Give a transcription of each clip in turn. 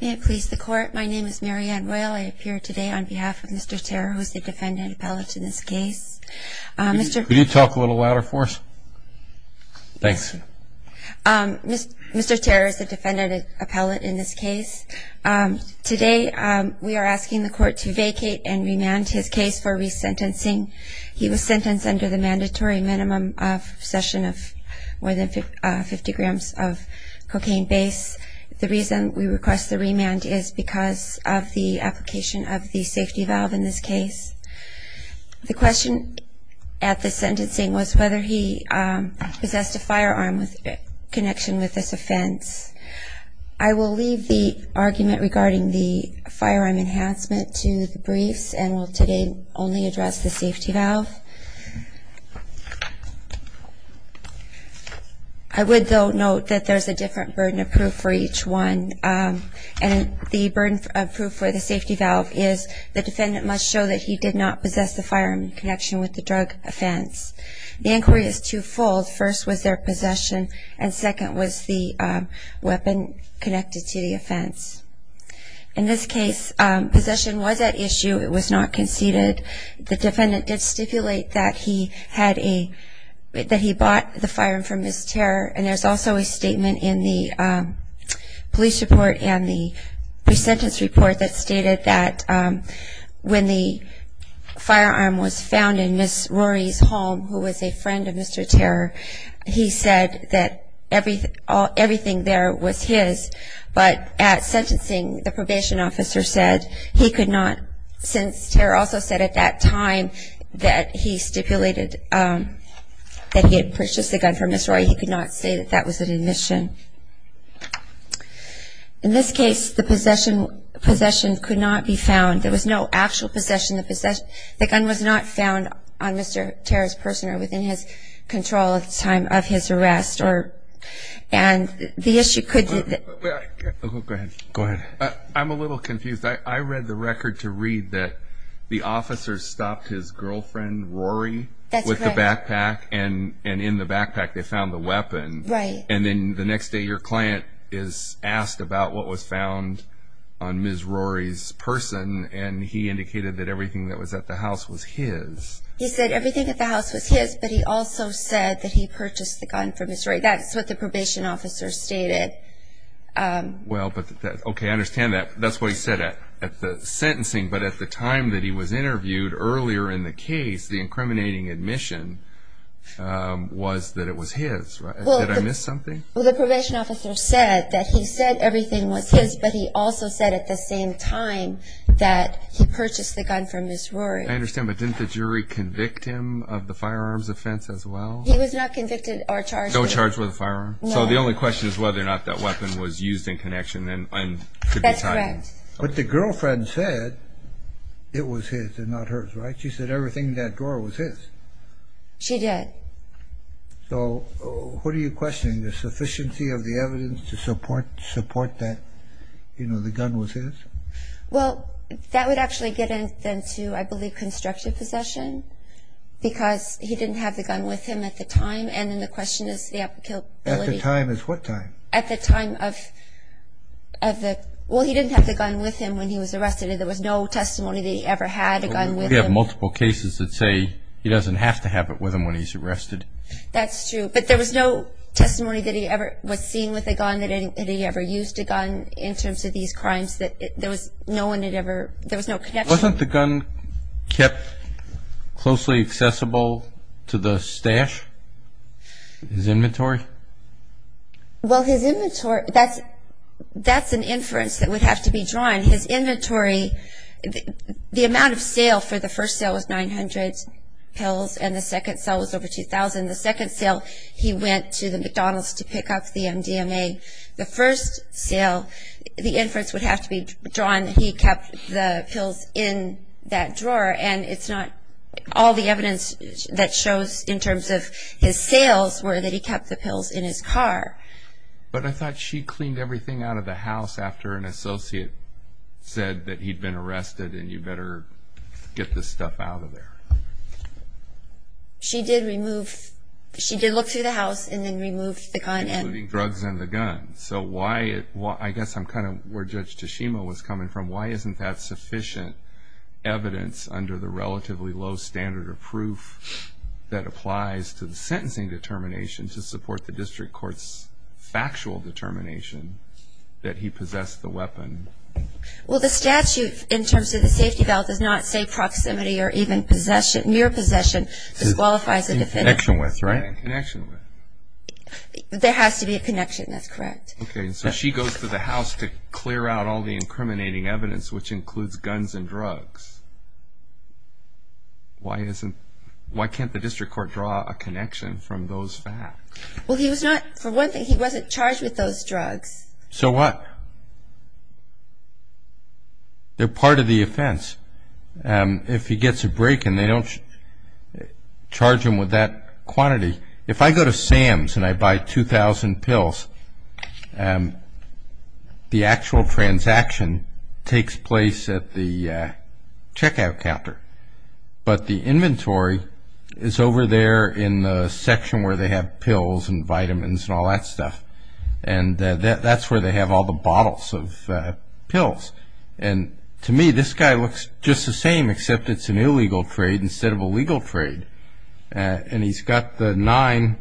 May it please the court, my name is Marianne Royal. I appear today on behalf of Mr. Tarrer, who is the defendant appellate in this case. Could you talk a little louder for us? Thanks. Mr. Tarrer is the defendant appellate in this case. Today we are asking the court to vacate and remand his case for resentencing. He was sentenced under the mandatory minimum of possession of more than 50 grams of cocaine base. The reason we request the remand is because of the application of the safety valve in this case. The question at the sentencing was whether he possessed a firearm with connection with this offense. I will leave the argument regarding the firearm enhancement to the briefs and will today only address the safety valve. I would though note that there is a different burden of proof for each one. The burden of proof for the safety valve is the defendant must show that he did not possess the firearm in connection with the drug offense. The inquiry is two-fold. First was their possession and second was the weapon connected to the offense. In this case, possession was at issue. It was not conceded. The defendant did stipulate that he bought the firearm from Ms. Tarrer. There is also a statement in the police report and the resentence report that stated that when the firearm was found in Ms. Rory's home, who was a friend of Mr. Tarrer, he said that everything there was his. But at sentencing, the probation officer said he could not, since Tarrer also said at that time that he stipulated that he had purchased the gun from Ms. Rory, he could not say that that was an admission. In this case, the possession could not be found. There was no actual possession. The gun was not found on Mr. Tarrer's person or within his control at the time of his arrest. And the issue could be... Go ahead. I'm a little confused. I read the record to read that the officer stopped his girlfriend, Rory, with the backpack and in the backpack they found the weapon. Right. And then the next day your client is asked about what was found on Ms. Rory's person and he indicated that everything that was at the house was his. He said everything at the house was his, but he also said that he purchased the gun from Ms. Rory. That's what the probation officer stated. Okay, I understand that. That's what he said at the sentencing. But at the time that he was interviewed earlier in the case, the incriminating admission was that it was his. Did I miss something? Well, the probation officer said that he said everything was his, but he also said at the same time that he purchased the gun from Ms. Rory. I understand, but didn't the jury convict him of the firearms offense as well? He was not convicted or charged with it. No charge with a firearm? No. So the only question is whether or not that weapon was used in connection and could be tied in. That's correct. But the girlfriend said it was his and not hers, right? She said everything in that drawer was his. She did. So what are you questioning? The sufficiency of the evidence to support that the gun was his? Well, that would actually get into, I believe, constructive possession because he didn't have the gun with him at the time, and then the question is the applicability. At the time is what time? At the time of the – well, he didn't have the gun with him when he was arrested, and there was no testimony that he ever had a gun with him. We have multiple cases that say he doesn't have to have it with him when he's arrested. That's true, but there was no testimony that he ever was seen with a gun, that he ever used a gun in terms of these crimes. There was no one that ever – there was no connection. Wasn't the gun kept closely accessible to the stash, his inventory? Well, his inventory – that's an inference that would have to be drawn. His inventory – the amount of sale for the first sale was 900 pills, and the second sale was over 2,000. The second sale, he went to the McDonald's to pick up the MDMA. The first sale, the inference would have to be drawn that he kept the pills in that drawer, and it's not – all the evidence that shows in terms of his sales were that he kept the pills in his car. But I thought she cleaned everything out of the house after an associate said that he'd been arrested and you better get this stuff out of there. She did remove – she did look through the house and then remove the gun and – Including drugs and the gun. So why – I guess I'm kind of where Judge Tashima was coming from. Why isn't that sufficient evidence under the relatively low standard of proof that applies to the sentencing determination to support the district court's factual determination that he possessed the weapon? Well, the statute in terms of the safety belt does not say proximity or even possession – mere possession disqualifies a defendant. In connection with, right? In connection with. There has to be a connection. That's correct. Okay, so she goes to the house to clear out all the incriminating evidence, which includes guns and drugs. Why isn't – why can't the district court draw a connection from those facts? Well, he was not – for one thing, he wasn't charged with those drugs. So what? They're part of the offense. If he gets a break and they don't charge him with that quantity – if I go to Sam's and I buy 2,000 pills, the actual transaction takes place at the checkout counter. But the inventory is over there in the section where they have pills and vitamins and all that stuff. And that's where they have all the bottles of pills. And to me, this guy looks just the same except it's an illegal trade instead of a legal trade. And he's got the nine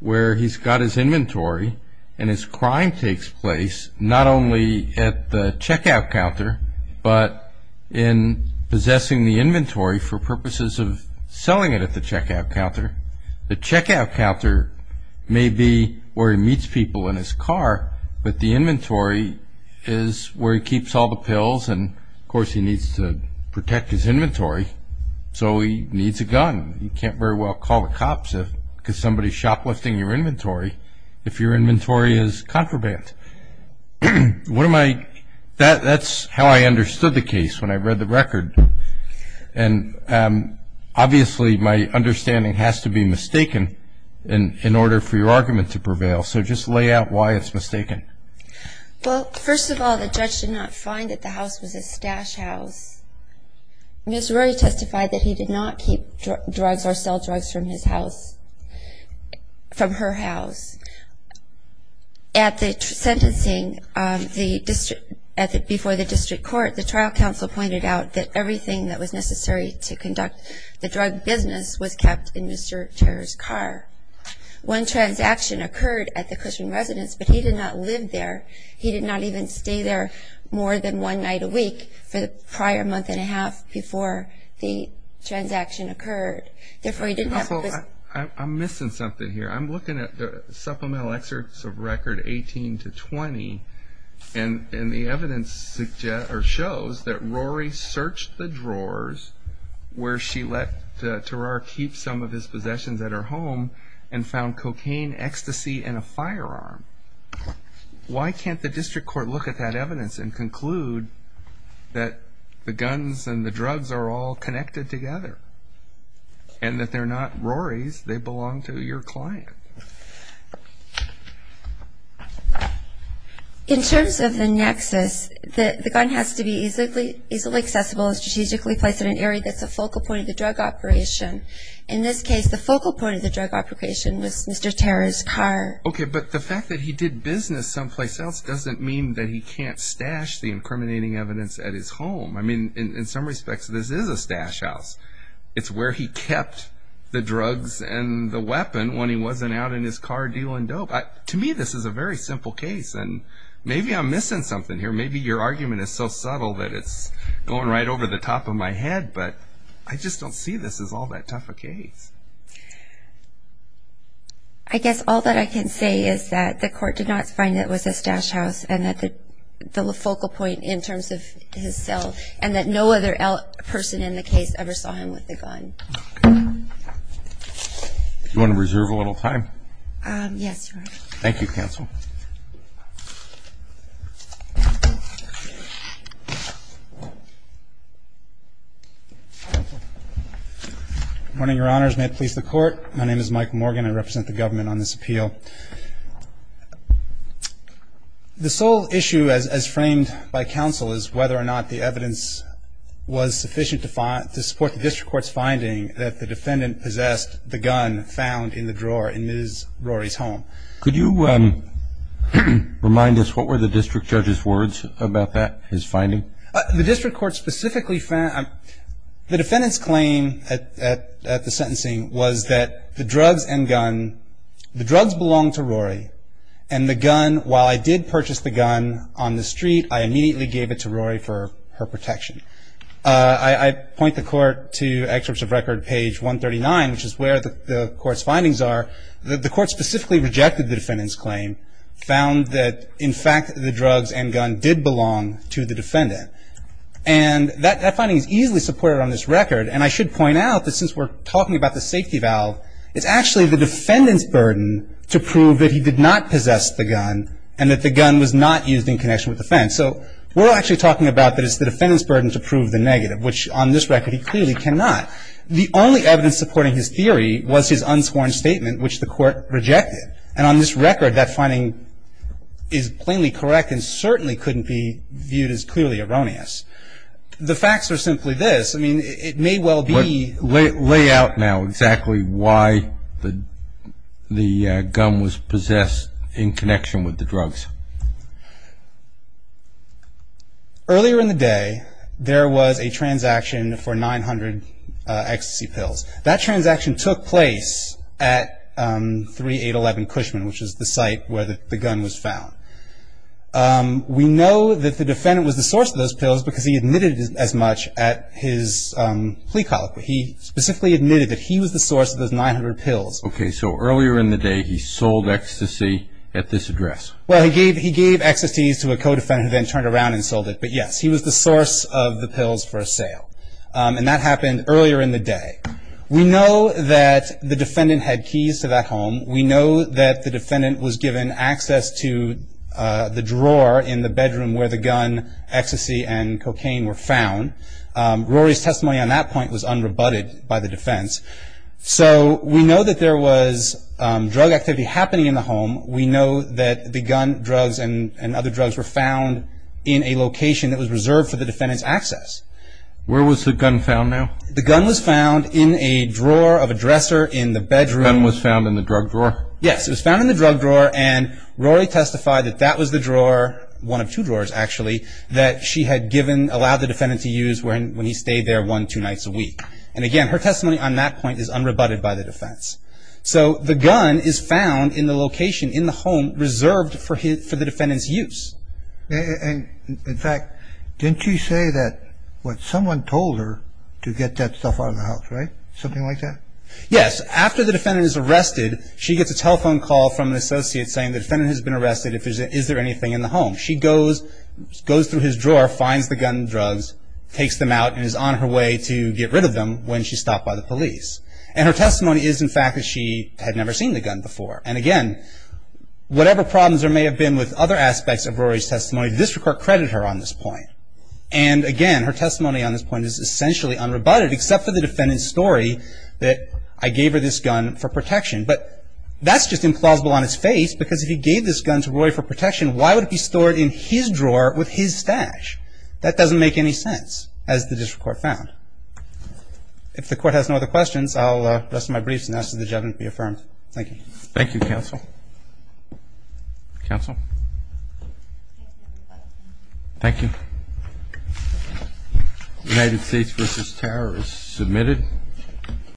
where he's got his inventory and his crime takes place not only at the checkout counter but in possessing the inventory for purposes of selling it at the checkout counter. The checkout counter may be where he meets people in his car, but the inventory is where he keeps all the pills and, of course, he needs to protect his inventory. So he needs a gun. He can't very well call the cops because somebody's shoplifting your inventory if your inventory is contraband. What am I – that's how I understood the case when I read the record. And obviously, my understanding has to be mistaken in order for your argument to prevail. So just lay out why it's mistaken. Well, first of all, the judge did not find that the house was a stash house. Ms. Rory testified that he did not keep drugs or sell drugs from his house – from her house. At the sentencing, the district – before the district court, the trial counsel pointed out that everything that was necessary to conduct the drug business was kept in Mr. Terer's car. One transaction occurred at the Cushman residence, but he did not live there. He did not even stay there more than one night a week for the prior month and a half before the transaction occurred. Therefore, he didn't have – Well, I'm missing something here. I'm looking at the supplemental excerpts of record 18 to 20, and the evidence shows that Rory searched the drawers where she let Terer keep some of his possessions at her home and found cocaine, ecstasy, and a firearm. Why can't the district court look at that evidence and conclude that the guns and the drugs are all connected together and that they're not Rory's, they belong to your client? In terms of the nexus, the gun has to be easily accessible and strategically placed in an area that's a focal point of the drug operation. In this case, the focal point of the drug operation was Mr. Terer's car. Okay, but the fact that he did business someplace else doesn't mean that he can't stash the incriminating evidence at his home. I mean, in some respects, this is a stash house. It's where he kept the drugs and the weapon when he wasn't out in his car dealing dope. To me, this is a very simple case, and maybe I'm missing something here. Maybe your argument is so subtle that it's going right over the top of my head, but I just don't see this as all that tough a case. I guess all that I can say is that the court did not find that it was a stash house and that the focal point in terms of his cell and that no other person in the case ever saw him with a gun. Do you want to reserve a little time? Yes, Your Honor. Thank you, counsel. Good morning, Your Honors. May it please the Court. My name is Mike Morgan. I represent the government on this appeal. The sole issue, as framed by counsel, is whether or not the evidence was sufficient to support the district court's finding that the defendant possessed the gun found in the drawer in Ms. Rory's home. Could you remind us what were the district judge's words about that, his finding? The district court specifically found the defendant's claim at the sentencing was that the drugs and gun, the drugs belonged to Rory, and the gun, while I did purchase the gun on the street, I immediately gave it to Rory for her protection. I point the court to excerpts of record page 139, which is where the court's findings are. The court specifically rejected the defendant's claim, found that, in fact, the drugs and gun did belong to the defendant. And that finding is easily supported on this record, and I should point out that since we're talking about the safety valve, it's actually the defendant's burden to prove that he did not possess the gun and that the gun was not used in connection with the offense. So we're actually talking about that it's the defendant's burden to prove the negative, which on this record he clearly cannot. The only evidence supporting his theory was his unsworn statement, which the court rejected. And on this record, that finding is plainly correct and certainly couldn't be viewed as clearly erroneous. The facts are simply this. I mean, it may well be. Lay out now exactly why the gun was possessed in connection with the drugs. Earlier in the day, there was a transaction for 900 ecstasy pills. That transaction took place at 3811 Cushman, which is the site where the gun was found. We know that the defendant was the source of those pills because he admitted as much at his plea colloquy. He specifically admitted that he was the source of those 900 pills. Okay, so earlier in the day, he sold ecstasy at this address. Well, he gave ecstasy to a co-defendant who then turned around and sold it. But yes, he was the source of the pills for sale. And that happened earlier in the day. We know that the defendant had keys to that home. We know that the defendant was given access to the drawer in the bedroom where the gun, ecstasy, and cocaine were found. Rory's testimony on that point was unrebutted by the defense. So we know that there was drug activity happening in the home. We know that the gun, drugs, and other drugs were found in a location that was reserved for the defendant's access. Where was the gun found now? The gun was found in a drawer of a dresser in the bedroom. The gun was found in the drug drawer? Yes, it was found in the drug drawer, and Rory testified that that was the drawer, one of two drawerss actually, that she had given, allowed the defendant to use when he stayed there one, two nights a week. And again, her testimony on that point is unrebutted by the defense. So the gun is found in the location in the home reserved for the defendant's use. And, in fact, didn't she say that what someone told her to get that stuff out of the house, right? Something like that? Yes. After the defendant is arrested, she gets a telephone call from an associate saying the defendant has been arrested. Is there anything in the home? She goes through his drawer, finds the gun and drugs, takes them out, and is on her way to get rid of them when she's stopped by the police. And her testimony is, in fact, that she had never seen the gun before. And again, whatever problems there may have been with other aspects of Rory's testimony, the district court credited her on this point. And again, her testimony on this point is essentially unrebutted, except for the defendant's story that I gave her this gun for protection. But that's just implausible on its face, because if he gave this gun to Rory for protection, why would it be stored in his drawer with his stash? That doesn't make any sense, as the district court found. If the court has no other questions, I'll rest my briefs and ask that the judgment be affirmed. Thank you. Thank you, counsel. Counsel? Thank you. United States v. Terror is submitted.